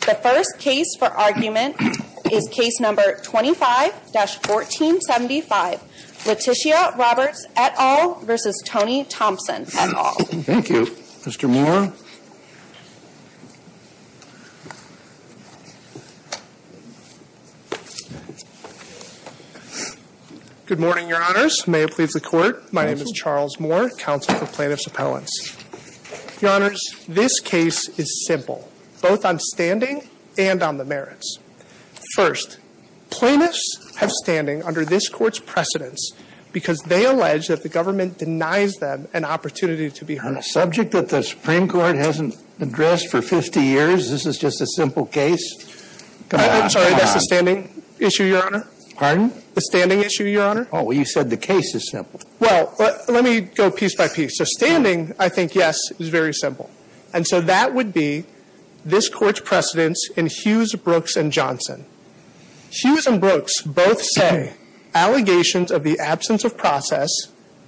The first case for argument is Case No. 25-1475, Leticia Roberts et al. v. Tony Thompson et al. Thank you. Mr. Moore? Good morning, Your Honors. May it please the Court, my name is Charles Moore, Counsel for Plaintiffs' Appellants. Your Honors, this case is simple, both on standing and on the merits. First, plaintiffs have standing under this Court's precedence because they allege that the government denies them an opportunity to be heard. On a subject that the Supreme Court hasn't addressed for 50 years, this is just a simple case? I'm sorry, that's the standing issue, Your Honor. Pardon? The standing issue, Your Honor. Oh, well, you said the case is simple. Well, let me go piece by piece. So standing, I think, yes, is very simple. And so that would be this Court's precedence in Hughes, Brooks, and Johnson. Hughes and Brooks both say allegations of the absence of process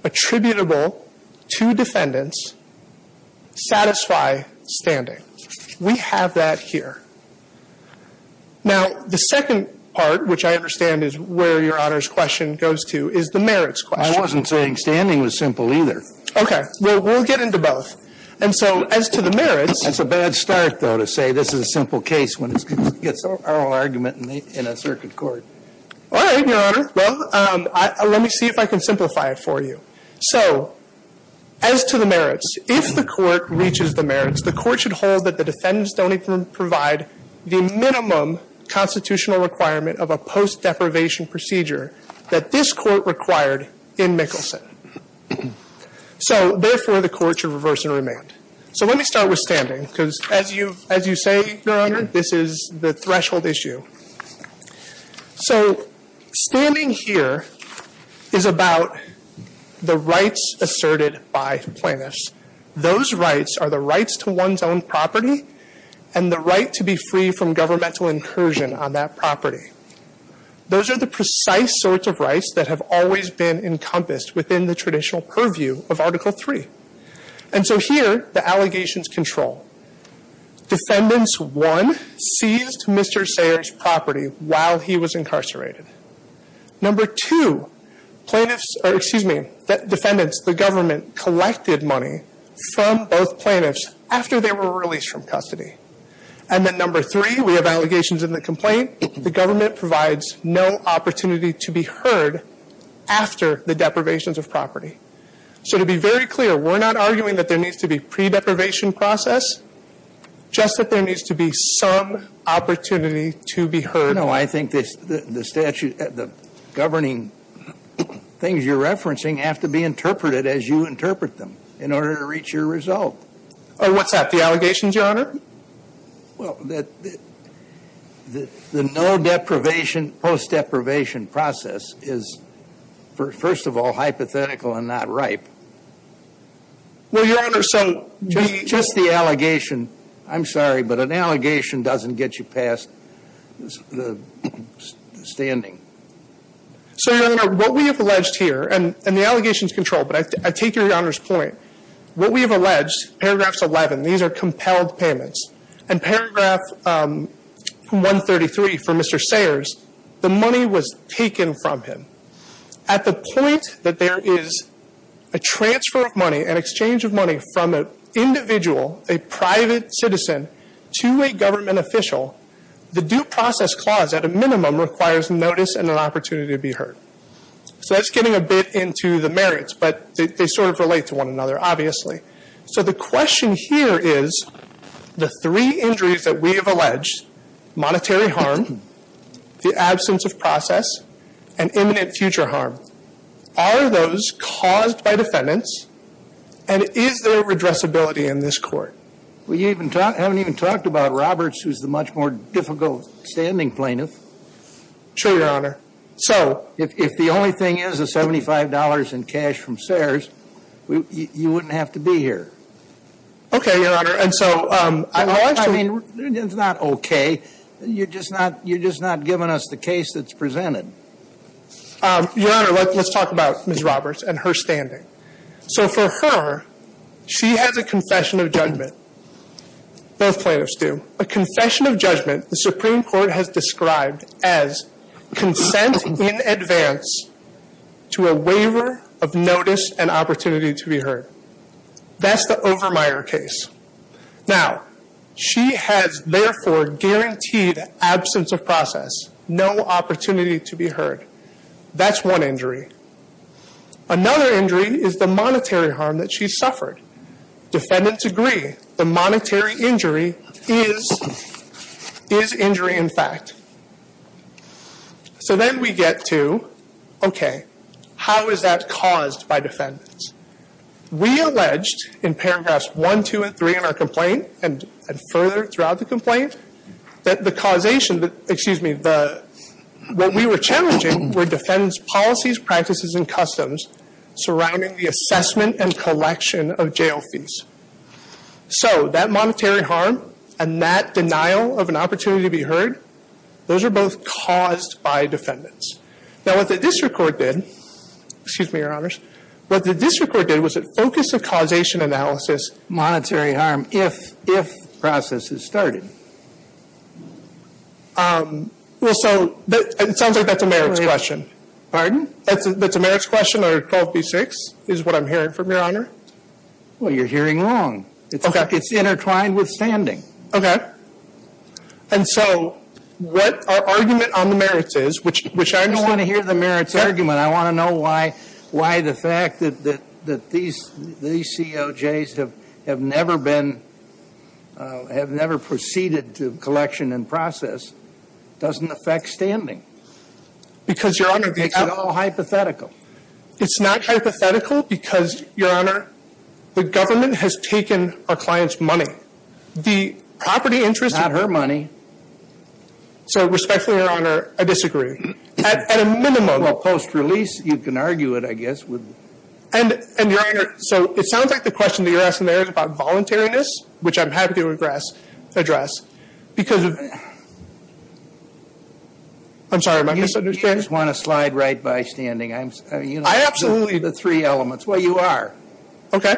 attributable to defendants satisfy standing. We have that here. Now, the second part, which I understand is where Your Honor's question goes to, is the merits question. I wasn't saying standing was simple either. Okay. Well, we'll get into both. And so as to the merits… That's a bad start, though, to say this is a simple case when it gets oral argument in a circuit court. All right, Your Honor. Well, let me see if I can simplify it for you. So as to the merits, if the Court reaches the merits, the Court should hold that the defendants don't even provide the minimum constitutional requirement of a post-deprivation procedure that this Court required in Mickelson. So therefore, the Court should reverse and remand. So let me start with standing, because as you say, Your Honor, this is the threshold issue. So standing here is about the rights asserted by plaintiffs. Those rights are the rights to one's own property and the right to be free from governmental incursion on that property. Those are the precise sorts of rights that have always been encompassed within the traditional purview of Article III. And so here, the allegations control. Defendants, one, seized Mr. Sayers' property while he was incarcerated. Number two, defendants, the government, collected money from both plaintiffs after they were released from custody. And then number three, we have allegations in the complaint. The government provides no opportunity to be heard after the deprivations of property. So to be very clear, we're not arguing that there needs to be pre-deprivation process, just that there needs to be some opportunity to be heard. No, I think the governing things you're referencing have to be interpreted as you interpret them in order to reach your result. What's that, the allegations, Your Honor? Well, the no-deprivation, post-deprivation process is, first of all, hypothetical and not ripe. Well, Your Honor, so... Just the allegation. I'm sorry, but an allegation doesn't get you past the standing. So, Your Honor, what we have alleged here, and the allegations control, but I take Your Honor's point. What we have alleged, paragraphs 11, these are compelled payments, and paragraph 133 for Mr. Sayers, the money was taken from him. At the point that there is a transfer of money, an exchange of money from an individual, a private citizen, to a government official, the due process clause, at a minimum, requires notice and an opportunity to be heard. So that's getting a bit into the merits, but they sort of relate to one another, obviously. So the question here is, the three injuries that we have alleged, monetary harm, the absence of process, and imminent future harm, are those caused by defendants, and is there a redressability in this court? Well, you haven't even talked about Roberts, who's the much more difficult standing plaintiff. Sure, Your Honor. So if the only thing is the $75 in cash from Sayers, you wouldn't have to be here. Okay, Your Honor. And so, I mean, it's not okay. You're just not giving us the case that's presented. Your Honor, let's talk about Ms. Roberts and her standing. So for her, she has a confession of judgment. Both plaintiffs do. A confession of judgment, the Supreme Court has described as consent in advance to a waiver of notice and opportunity to be heard. That's the Overmyer case. Now, she has, therefore, guaranteed absence of process, no opportunity to be heard. That's one injury. Another injury is the monetary harm that she suffered. Defendants agree the monetary injury is injury, in fact. So then we get to, okay, how is that caused by defendants? We alleged in paragraphs 1, 2, and 3 in our complaint, and further throughout the complaint, that the causation, excuse me, what we were challenging were defendants' policies, practices, and customs surrounding the assessment and collection of jail fees. So that monetary harm and that denial of an opportunity to be heard, those are both caused by defendants. Now, what the district court did, excuse me, Your Honors, what the district court did was a focus of causation analysis monetary harm if the process is started. Well, so it sounds like that's a merits question. Pardon? That's a merits question or 12b-6 is what I'm hearing from Your Honor. Well, you're hearing wrong. Okay. It's intertwined with standing. Okay. And so what our argument on the merits is, which I understand. I don't want to hear the merits argument. I want to know why the fact that these COJs have never been, have never proceeded to collection and process doesn't affect standing. Because, Your Honor, it's all hypothetical. It's not hypothetical because, Your Honor, the government has taken our clients' money. The property interest. Not her money. So respectfully, Your Honor, I disagree. At a minimum. Well, post-release, you can argue it, I guess. And, Your Honor, so it sounds like the question that you're asking there is about voluntariness, which I'm happy to address. Because of, I'm sorry, am I misunderstanding? You just want to slide right by standing. I absolutely. The three elements. Well, you are. Okay.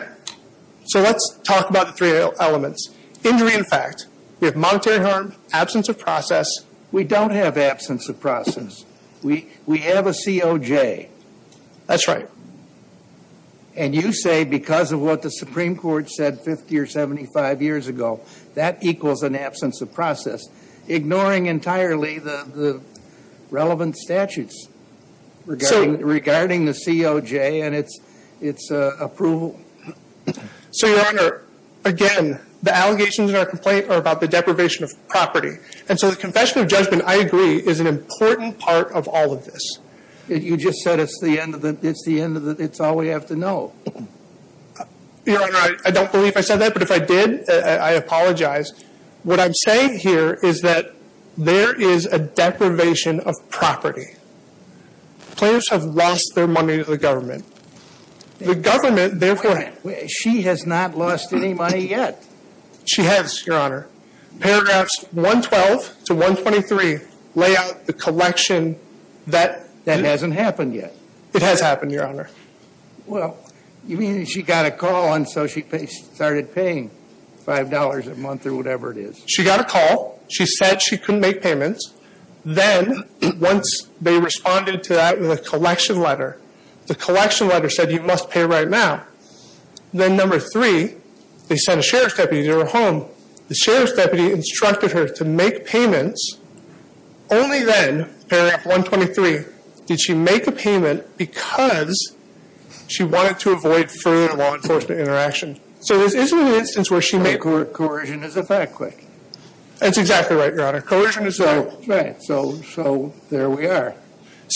So let's talk about the three elements. Injury and fact. We have monetary harm. Absence of process. We don't have absence of process. We have a COJ. That's right. And you say because of what the Supreme Court said 50 or 75 years ago, that equals an absence of process. Ignoring entirely the relevant statutes regarding the COJ and its approval. So, Your Honor, again, the allegations in our complaint are about the deprivation of property. And so the confession of judgment, I agree, is an important part of all of this. You just said it's the end of the, it's the end of the, it's all we have to know. Your Honor, I don't believe I said that. But if I did, I apologize. What I'm saying here is that there is a deprivation of property. Plaintiffs have lost their money to the government. The government, therefore. She has not lost any money yet. She has, Your Honor. Paragraphs 112 to 123 lay out the collection that hasn't happened yet. It has happened, Your Honor. Well, you mean she got a call and so she started paying $5 a month or whatever it is. She got a call. She said she couldn't make payments. Then once they responded to that with a collection letter, the collection letter said you must pay right now. Then number three, they sent a sheriff's deputy to her home. The sheriff's deputy instructed her to make payments. Only then, paragraph 123, did she make a payment because she wanted to avoid further law enforcement interaction. So this isn't an instance where she made. Coercion is a fact. That's exactly right, Your Honor. Coercion is a fact. Right. So there we are.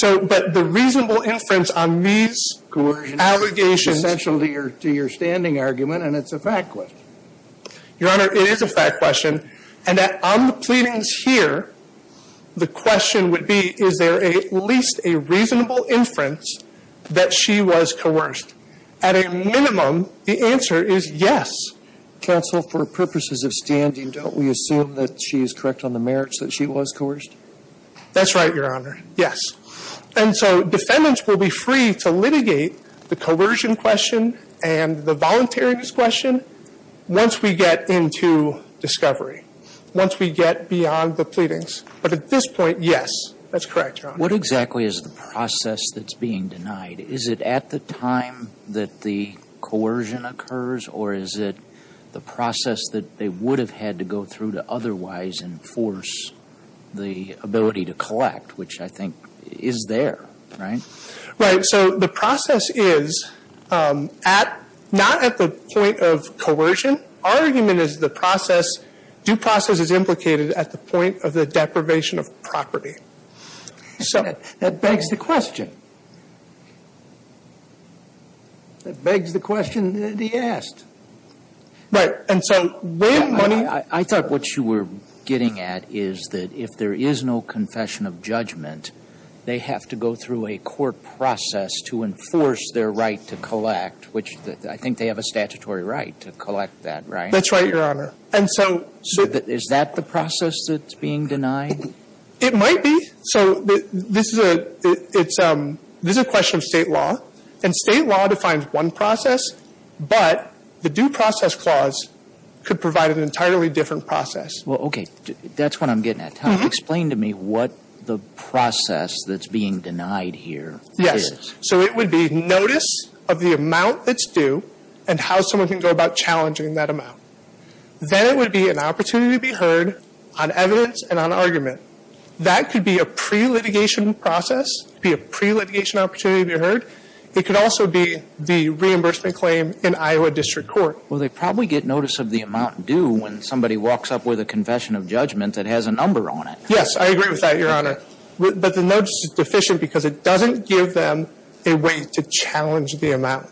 But the reasonable inference on these allegations. Coercion is essential to your standing argument and it's a fact. Your Honor, it is a fact question. And on the pleadings here, the question would be, is there at least a reasonable inference that she was coerced? At a minimum, the answer is yes. Counsel, for purposes of standing, don't we assume that she is correct on the merits that she was coerced? That's right, Your Honor. Yes. And so defendants will be free to litigate the coercion question and the voluntariness question once we get into discovery. Once we get beyond the pleadings. But at this point, yes, that's correct, Your Honor. What exactly is the process that's being denied? Is it at the time that the coercion occurs or is it the process that they would have had to go through to otherwise enforce the ability to collect, which I think is there, right? Right. So the process is not at the point of coercion. Our argument is the process, due process is implicated at the point of the deprivation of property. So that begs the question. That begs the question that he asked. Right. And so where money was. I thought what you were getting at is that if there is no confession of judgment, they have to go through a court process to enforce their right to collect, which I think they have a statutory right to collect that, right? That's right, Your Honor. And so. Is that the process that's being denied? It might be. So this is a question of State law. And State law defines one process, but the due process clause could provide an entirely different process. Well, okay. That's what I'm getting at. Explain to me what the process that's being denied here is. Yes. So it would be notice of the amount that's due and how someone can go about challenging that amount. Then it would be an opportunity to be heard on evidence and on argument. That could be a pre-litigation process, be a pre-litigation opportunity to be heard. It could also be the reimbursement claim in Iowa District Court. Well, they probably get notice of the amount due when somebody walks up with a confession of judgment that has a number on it. Yes, I agree with that, Your Honor. But the notice is deficient because it doesn't give them a way to challenge the amount.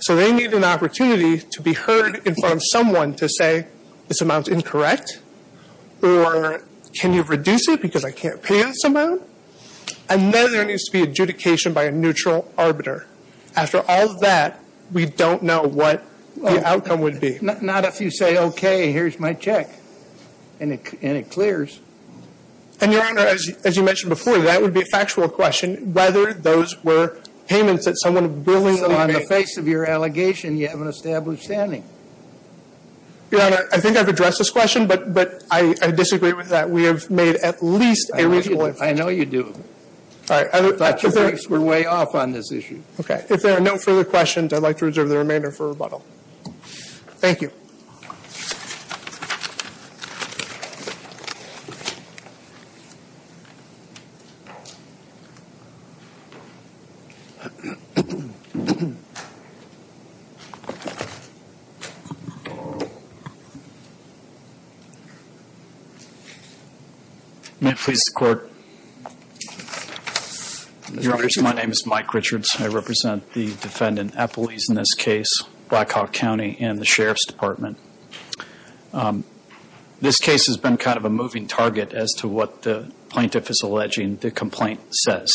So they need an opportunity to be heard in front of someone to say this amount is incorrect or can you reduce it because I can't pay this amount. And then there needs to be adjudication by a neutral arbiter. After all of that, we don't know what the outcome would be. Not if you say, okay, here's my check, and it clears. And, Your Honor, as you mentioned before, that would be a factual question, whether those were payments that someone willingly made. So on the face of your allegation, you have an established standing. Your Honor, I think I've addressed this question, but I disagree with that. We have made at least a reasonable inference. I know you do. All right. We're way off on this issue. Okay. If there are no further questions, I'd like to reserve the remainder for rebuttal. Thank you. May it please the Court. Your Honor, my name is Mike Richards. I represent the defendant, Applebee's, in this case, Blackhawk County and the Sheriff's Department. This case has been kind of a moving target as to what the plaintiff is alleging the complaint says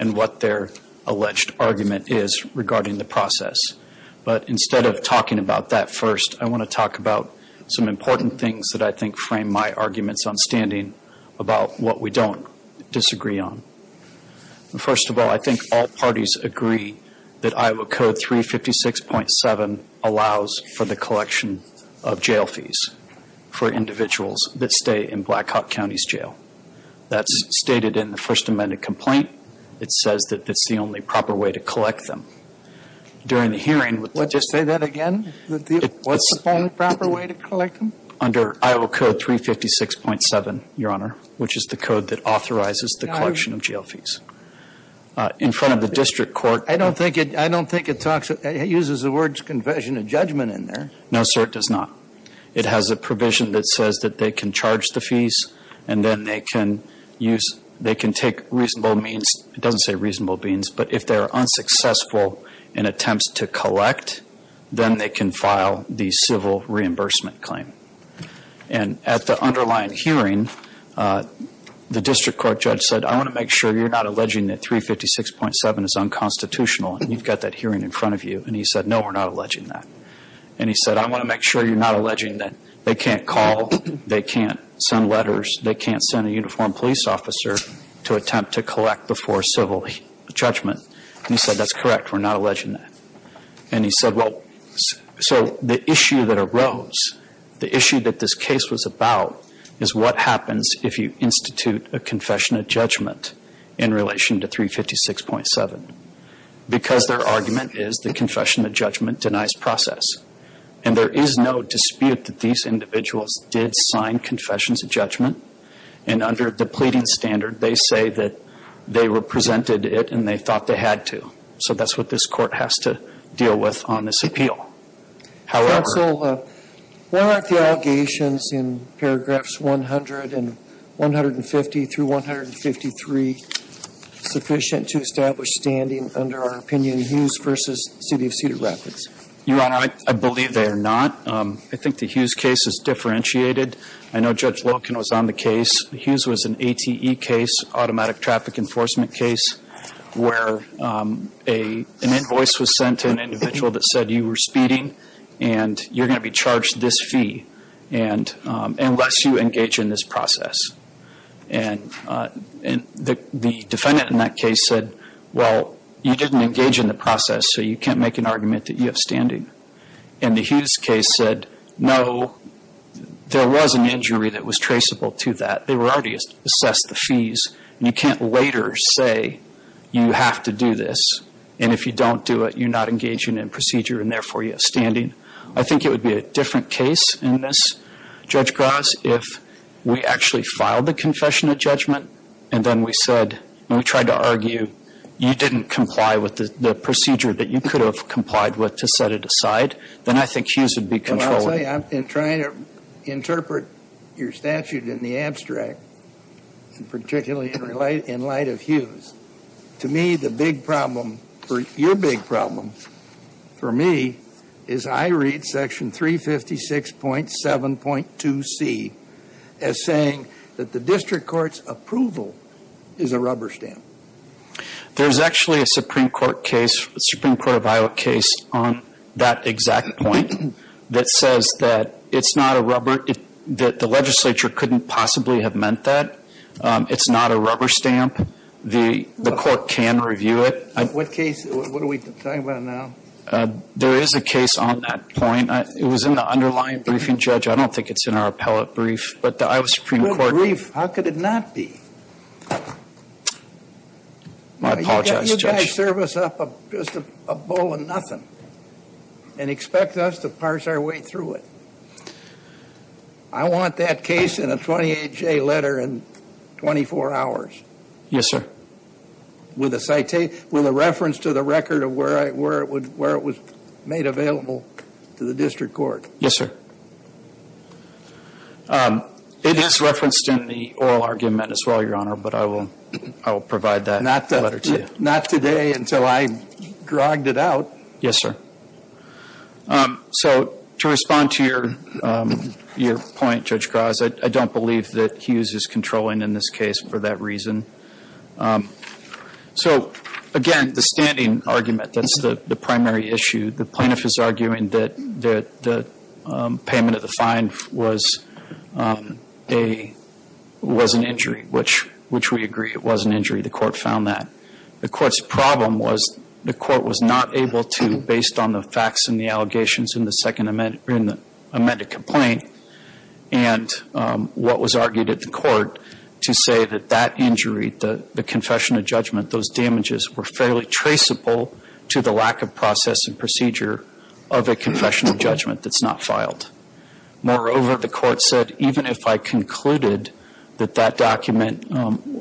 and what their alleged argument is regarding the process. But instead of talking about that first, I want to talk about some important things that I think frame my arguments on standing about what we don't disagree on. First of all, I think all parties agree that Iowa Code 356.7 allows for the collection of jail fees for individuals that stay in Blackhawk County's jail. That's stated in the First Amendment complaint. It says that that's the only proper way to collect them. During the hearing with the defendant ---- Say that again? What's the only proper way to collect them? Under Iowa Code 356.7, Your Honor, which is the code that authorizes the collection of jail fees. In front of the district court ---- I don't think it uses the words confession and judgment in there. No, sir, it does not. It has a provision that says that they can charge the fees and then they can take reasonable means ---- it doesn't say reasonable means, but if they are unsuccessful in attempts to collect, then they can file the civil reimbursement claim. At the underlying hearing, the district court judge said, I want to make sure you're not alleging that 356.7 is unconstitutional, and you've got that hearing in front of you. He said, no, we're not alleging that. He said, I want to make sure you're not alleging that they can't call, they can't send letters, they can't send a uniformed police officer to attempt to collect before civil judgment. He said, that's correct, we're not alleging that. And he said, well, so the issue that arose, the issue that this case was about is what happens if you institute a confession of judgment in relation to 356.7. Because their argument is the confession of judgment denies process. And there is no dispute that these individuals did sign confessions of judgment, and under the pleading standard, they say that they represented it and they thought they had to. So that's what this court has to deal with on this appeal. However... Counsel, why aren't the allegations in paragraphs 100 and 150 through 153 sufficient to establish standing under our opinion, Hughes v. City of Cedar Rapids? Your Honor, I believe they are not. I think the Hughes case is differentiated. I know Judge Loken was on the case. Hughes was an ATE case, automatic traffic enforcement case, where an invoice was sent to an individual that said you were speeding and you're going to be charged this fee unless you engage in this process. And the defendant in that case said, well, you didn't engage in the process, so you can't make an argument that you have standing. And the Hughes case said, no, there was an injury that was traceable to that. They were already assessed the fees. You can't later say you have to do this, and if you don't do it, you're not engaging in procedure and therefore you have standing. I think it would be a different case in this, Judge Gross, if we actually filed the confession of judgment and then we said, and we tried to argue you didn't comply with the procedure that you could have complied with to set it aside. Then I think Hughes would be controllable. Let me tell you, I've been trying to interpret your statute in the abstract, particularly in light of Hughes. To me, the big problem, your big problem for me is I read Section 356.7.2C as saying that the district court's approval is a rubber stamp. There's actually a Supreme Court case, Supreme Court of Iowa case, on that exact point that says that it's not a rubber, that the legislature couldn't possibly have meant that. It's not a rubber stamp. The court can review it. What case? What are we talking about now? There is a case on that point. It was in the underlying briefing, Judge. I don't think it's in our appellate brief, but the Iowa Supreme Court. How could it not be? I apologize, Judge. Judge, serve us up just a bowl of nothing and expect us to parse our way through it. I want that case in a 28-J letter in 24 hours. Yes, sir. With a reference to the record of where it was made available to the district court. Yes, sir. It is referenced in the oral argument as well, Your Honor, but I will provide that letter to you. Not today until I grogged it out. Yes, sir. So to respond to your point, Judge Graz, I don't believe that Hughes is controlling in this case for that reason. So, again, the standing argument, that's the primary issue. The plaintiff is arguing that the payment of the fine was an injury, which we agree it was an injury. The court found that. The court's problem was the court was not able to, based on the facts and the allegations in the second amended complaint, and what was argued at the court to say that that injury, the confession of judgment, those damages were fairly traceable to the lack of process and procedure of a confession of judgment that's not filed. Moreover, the court said even if I concluded that that document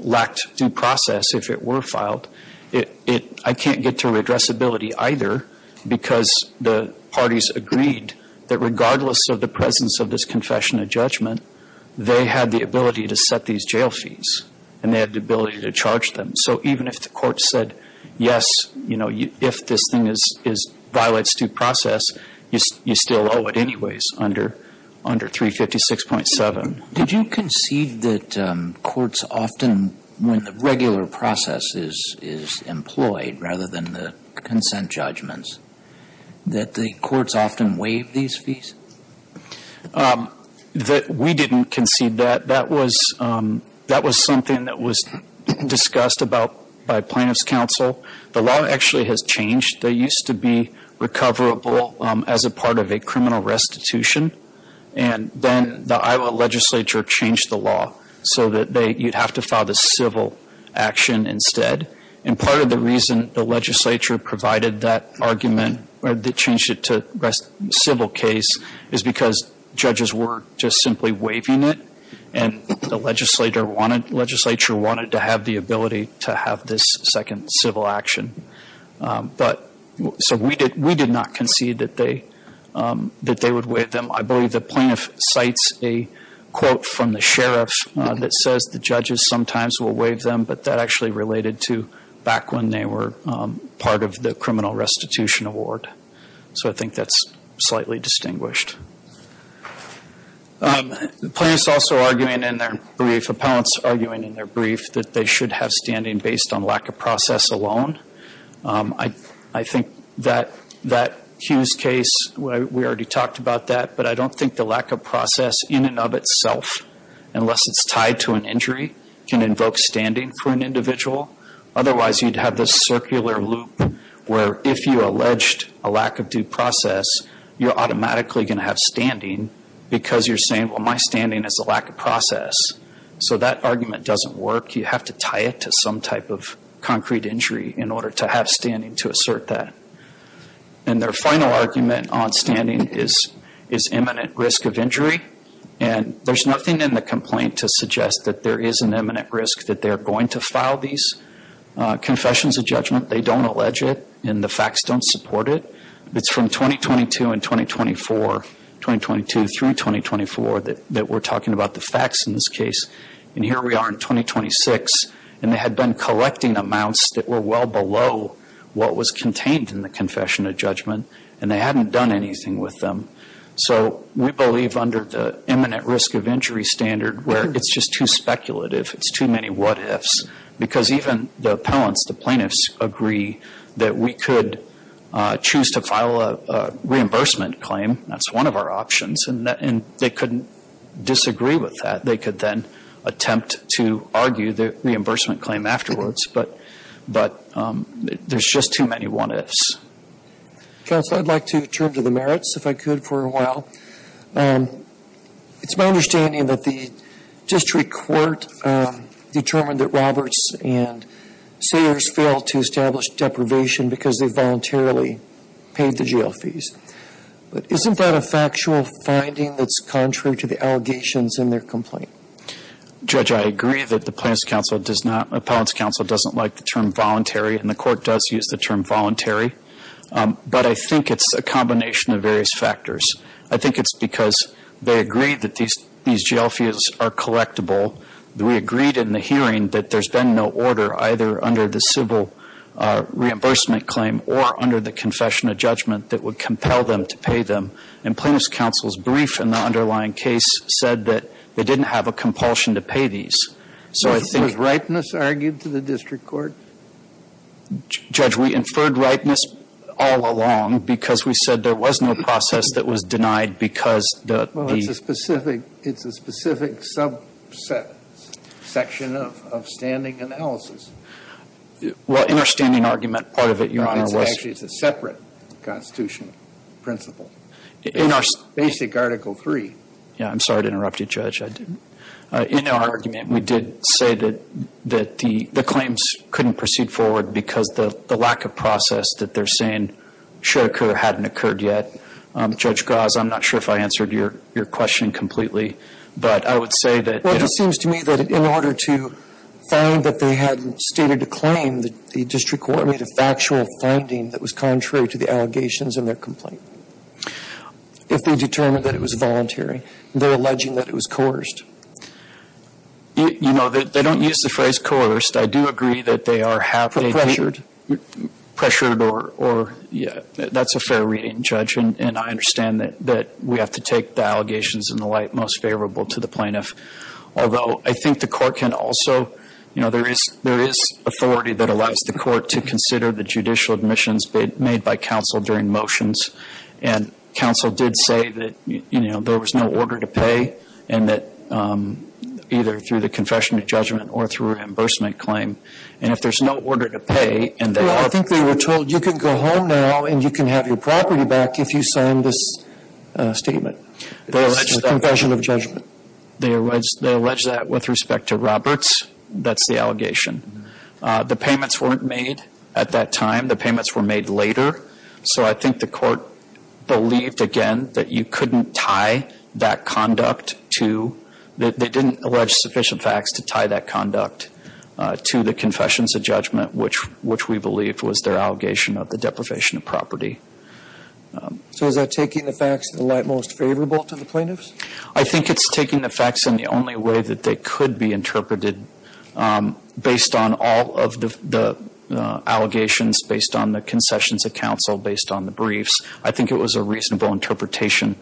lacked due process, if it were filed, I can't get to redressability either because the parties agreed that regardless of the presence of this confession of judgment, they had the ability to set these jail fees and they had the ability to charge them. So even if the court said, yes, if this thing violates due process, you still owe it anyways under 356.7. Did you concede that courts often, when the regular process is employed rather than the consent judgments, that the courts often waive these fees? We didn't concede that. That was something that was discussed by plaintiff's counsel. The law actually has changed. They used to be recoverable as a part of a criminal restitution, and then the Iowa legislature changed the law so that you'd have to file the civil action instead. And part of the reason the legislature provided that argument, or they changed it to civil case, is because judges were just simply waiving it, and the legislature wanted to have the ability to have this second civil action. So we did not concede that they would waive them. I believe the plaintiff cites a quote from the sheriff that says the judges sometimes will waive them, but that actually related to back when they were part of the criminal restitution award. So I think that's slightly distinguished. Plaintiffs also arguing in their brief, appellants arguing in their brief that they should have standing based on lack of process alone. I think that Hughes case, we already talked about that, but I don't think the lack of process in and of itself, unless it's tied to an injury, can invoke standing for an individual. Otherwise, you'd have this circular loop where if you alleged a lack of due process, you're automatically going to have standing because you're saying, well, my standing is a lack of process. So that argument doesn't work. You have to tie it to some type of concrete injury in order to have standing to assert that. And their final argument on standing is imminent risk of injury, and there's nothing in the complaint to suggest that there is an imminent risk that they're going to file these confessions of judgment. They don't allege it, and the facts don't support it. It's from 2022 and 2024, 2022 through 2024, that we're talking about the facts in this case. And here we are in 2026, and they had been collecting amounts that were well below what was contained in the confession of judgment, and they hadn't done anything with them. So we believe under the imminent risk of injury standard where it's just too speculative, it's too many what-ifs, because even the appellants, the plaintiffs, agree that we could choose to file a reimbursement claim. That's one of our options, and they couldn't disagree with that. They could then attempt to argue the reimbursement claim afterwards, but there's just too many what-ifs. Counsel, I'd like to turn to the merits, if I could, for a while. It's my understanding that the district court determined that Roberts and Sayers failed to establish deprivation because they voluntarily paid the jail fees. But isn't that a factual finding that's contrary to the allegations in their complaint? Judge, I agree that the Appellants' Counsel doesn't like the term voluntary, and the court does use the term voluntary, but I think it's a combination of various factors. I think it's because they agreed that these jail fees are collectible. We agreed in the hearing that there's been no order either under the civil reimbursement claim or under the confession of judgment that would compel them to pay them. And Plaintiffs' Counsel's brief in the underlying case said that they didn't have a compulsion to pay these. So I think ---- Was ripeness argued to the district court? Judge, we inferred ripeness all along because we said there was no process that was denied because the ---- Well, it's a specific subsection of standing analysis. Well, in our standing argument, part of it, Your Honor, was ---- Actually, it's a separate Constitution principle. In our ---- Basic Article III. Yeah, I'm sorry to interrupt you, Judge. In our argument, we did say that the claims couldn't proceed forward because the lack of process that they're saying should occur hadn't occurred yet. Judge Gauze, I'm not sure if I answered your question completely, but I would say that ---- Well, it seems to me that in order to find that they had stated a claim, the district court made a factual finding that was contrary to the allegations in their complaint. If they determined that it was voluntary, they're alleging that it was coerced. You know, they don't use the phrase coerced. I do agree that they are ---- Pressured. Pressured or, yeah, that's a fair reading, Judge, and I understand that we have to take the allegations in the light most favorable to the plaintiff, although I think the court can also, you know, there is authority that allows the court to consider the judicial admissions made by counsel during motions, and counsel did say that, you know, there was no order to pay and that either through the confession of judgment or through a reimbursement claim, and if there's no order to pay and they ---- Well, I think they were told you can go home now and you can have your property back if you sign this statement. It's a confession of judgment. They allege that with respect to Roberts. That's the allegation. The payments weren't made at that time. Again, the payments were made later. So I think the court believed, again, that you couldn't tie that conduct to ---- that they didn't allege sufficient facts to tie that conduct to the confessions of judgment, which we believe was their allegation of the deprivation of property. So is that taking the facts in the light most favorable to the plaintiffs? I think it's taking the facts in the only way that they could be interpreted based on all of the allegations, based on the concessions of counsel, based on the briefs. I think it was a reasonable interpretation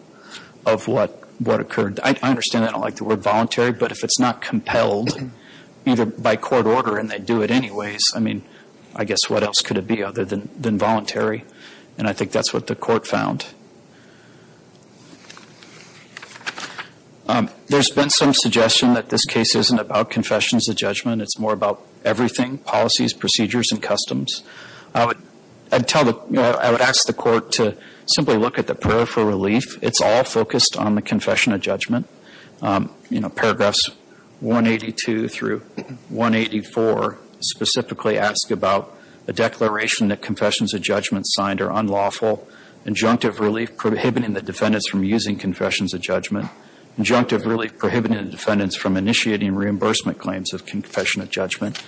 of what occurred. I understand they don't like the word voluntary, but if it's not compelled either by court order and they do it anyways, I mean, I guess what else could it be other than voluntary? And I think that's what the court found. There's been some suggestion that this case isn't about confessions of judgment. It's more about everything, policies, procedures, and customs. I would ask the court to simply look at the prayer for relief. It's all focused on the confession of judgment. Paragraphs 182 through 184 specifically ask about a declaration that confessions of judgment signed are unlawful, injunctive relief prohibiting the defendants from using confessions of judgment, injunctive relief prohibiting the defendants from initiating reimbursement claims of confession of judgment.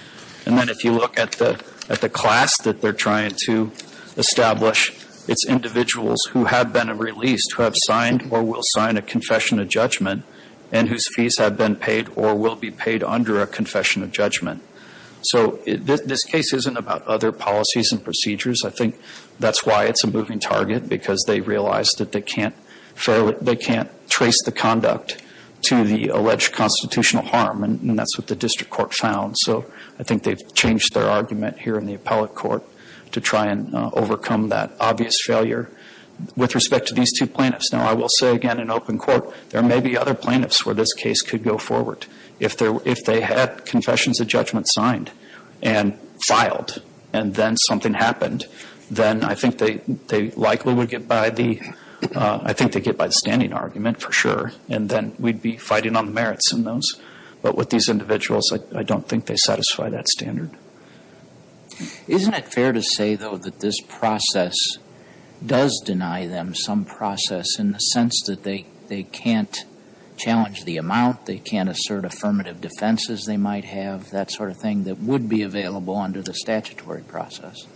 And then if you look at the class that they're trying to establish, it's individuals who have been released, who have signed or will sign a confession of judgment, and whose fees have been paid or will be paid under a confession of judgment. So this case isn't about other policies and procedures. I think that's why it's a moving target, because they realize that they can't trace the conduct to the alleged constitutional harm, and that's what the district court found. So I think they've changed their argument here in the appellate court to try and overcome that obvious failure. With respect to these two plaintiffs, now I will say again in open court, there may be other plaintiffs where this case could go forward. If they had confessions of judgment signed and filed and then something happened, then I think they likely would get by the standing argument for sure, and then we'd be fighting on the merits in those. But with these individuals, I don't think they satisfy that standard. Isn't it fair to say, though, that this process does deny them some process in the sense that they can't challenge the amount, they can't assert affirmative defenses they might have, that sort of thing that would be available under the statutory process?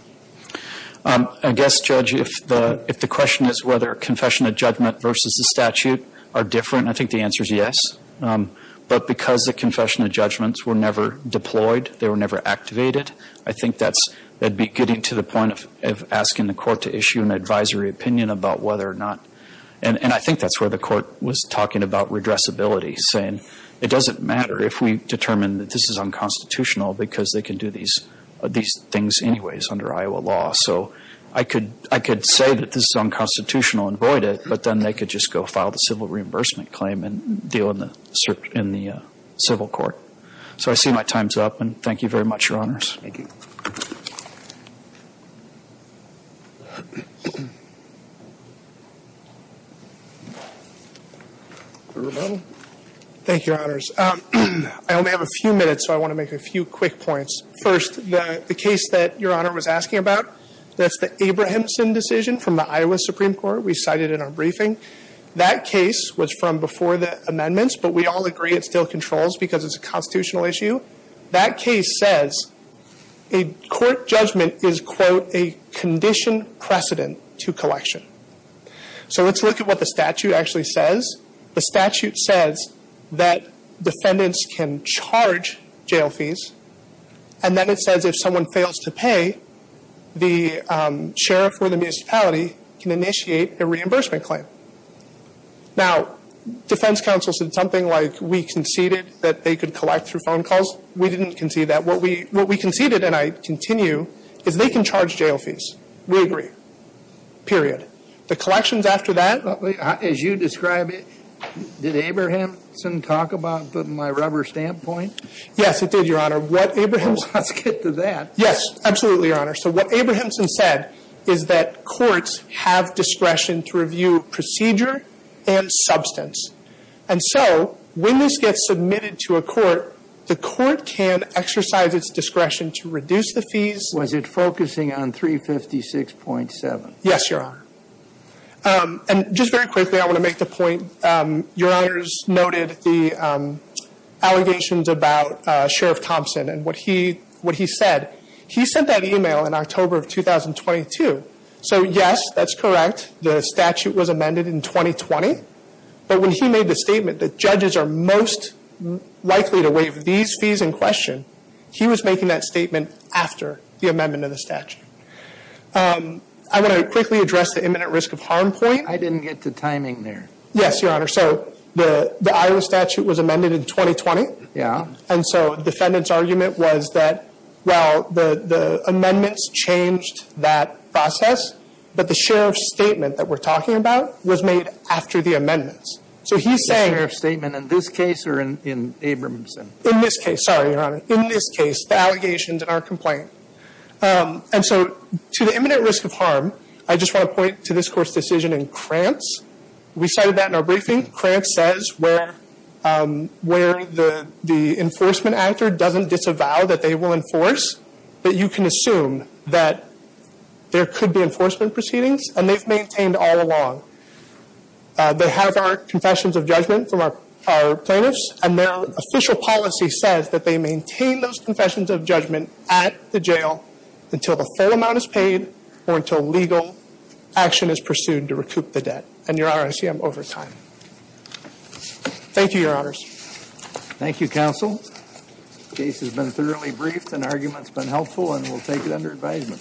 I guess, Judge, if the question is whether confession of judgment versus the statute are different, I think the answer is yes. But because the confession of judgments were never deployed, they were never activated, I think that's getting to the point of asking the court to issue an advisory opinion about whether or not, and I think that's where the court was talking about redressability, saying it doesn't matter if we determine that this is unconstitutional because they can do these things anyways under Iowa law. So I could say that this is unconstitutional and void it, but then they could just go file the civil reimbursement claim and deal in the civil court. So I see my time's up, and thank you very much, Your Honors. Thank you. Thank you, Your Honors. I only have a few minutes, so I want to make a few quick points. First, the case that Your Honor was asking about, that's the Abrahamson decision from the Iowa Supreme Court we cited in our briefing. That case was from before the amendments, but we all agree it still controls because it's a constitutional issue. That case says a court judgment is, quote, a condition precedent to collection. So let's look at what the statute actually says. The statute says that defendants can charge jail fees, and then it says if someone fails to pay, the sheriff or the municipality can initiate a reimbursement claim. Now, defense counsel said something like we conceded that they could collect through phone calls. We didn't concede that. What we conceded, and I continue, is they can charge jail fees. We agree. Period. The collections after that? As you describe it, did Abrahamson talk about my rubber stamp point? Yes, it did, Your Honor. Let's get to that. Yes, absolutely, Your Honor. So what Abrahamson said is that courts have discretion to review procedure and substance. And so when this gets submitted to a court, the court can exercise its discretion to reduce the fees. Was it focusing on 356.7? Yes, Your Honor. And just very quickly, I want to make the point, Your Honor's noted the allegations about Sheriff Thompson and what he said. He sent that email in October of 2022. So yes, that's correct. The statute was amended in 2020. But when he made the statement that judges are most likely to waive these fees in question, he was making that statement after the amendment of the statute. I want to quickly address the imminent risk of harm point. I didn't get to timing there. Yes, Your Honor. So the Iowa statute was amended in 2020. Yeah. And so the defendant's argument was that, well, the amendments changed that process, but the sheriff's statement that we're talking about was made after the amendments. So he's saying – The sheriff's statement in this case or in Abrahamson? In this case. Sorry, Your Honor. In this case, the allegations in our complaint. And so to the imminent risk of harm, I just want to point to this court's decision in Krantz. We cited that in our briefing. Krantz says where the enforcement actor doesn't disavow that they will enforce, that you can assume that there could be enforcement proceedings, and they've maintained all along. They have our confessions of judgment from our plaintiffs, and their official policy says that they maintain those confessions of judgment at the jail until the full amount is paid or until legal action is pursued to recoup the debt. And Your Honor, I see I'm over time. Thank you, Your Honors. Thank you, Counsel. The case has been thoroughly briefed, and the argument's been helpful, and we'll take it under advisement.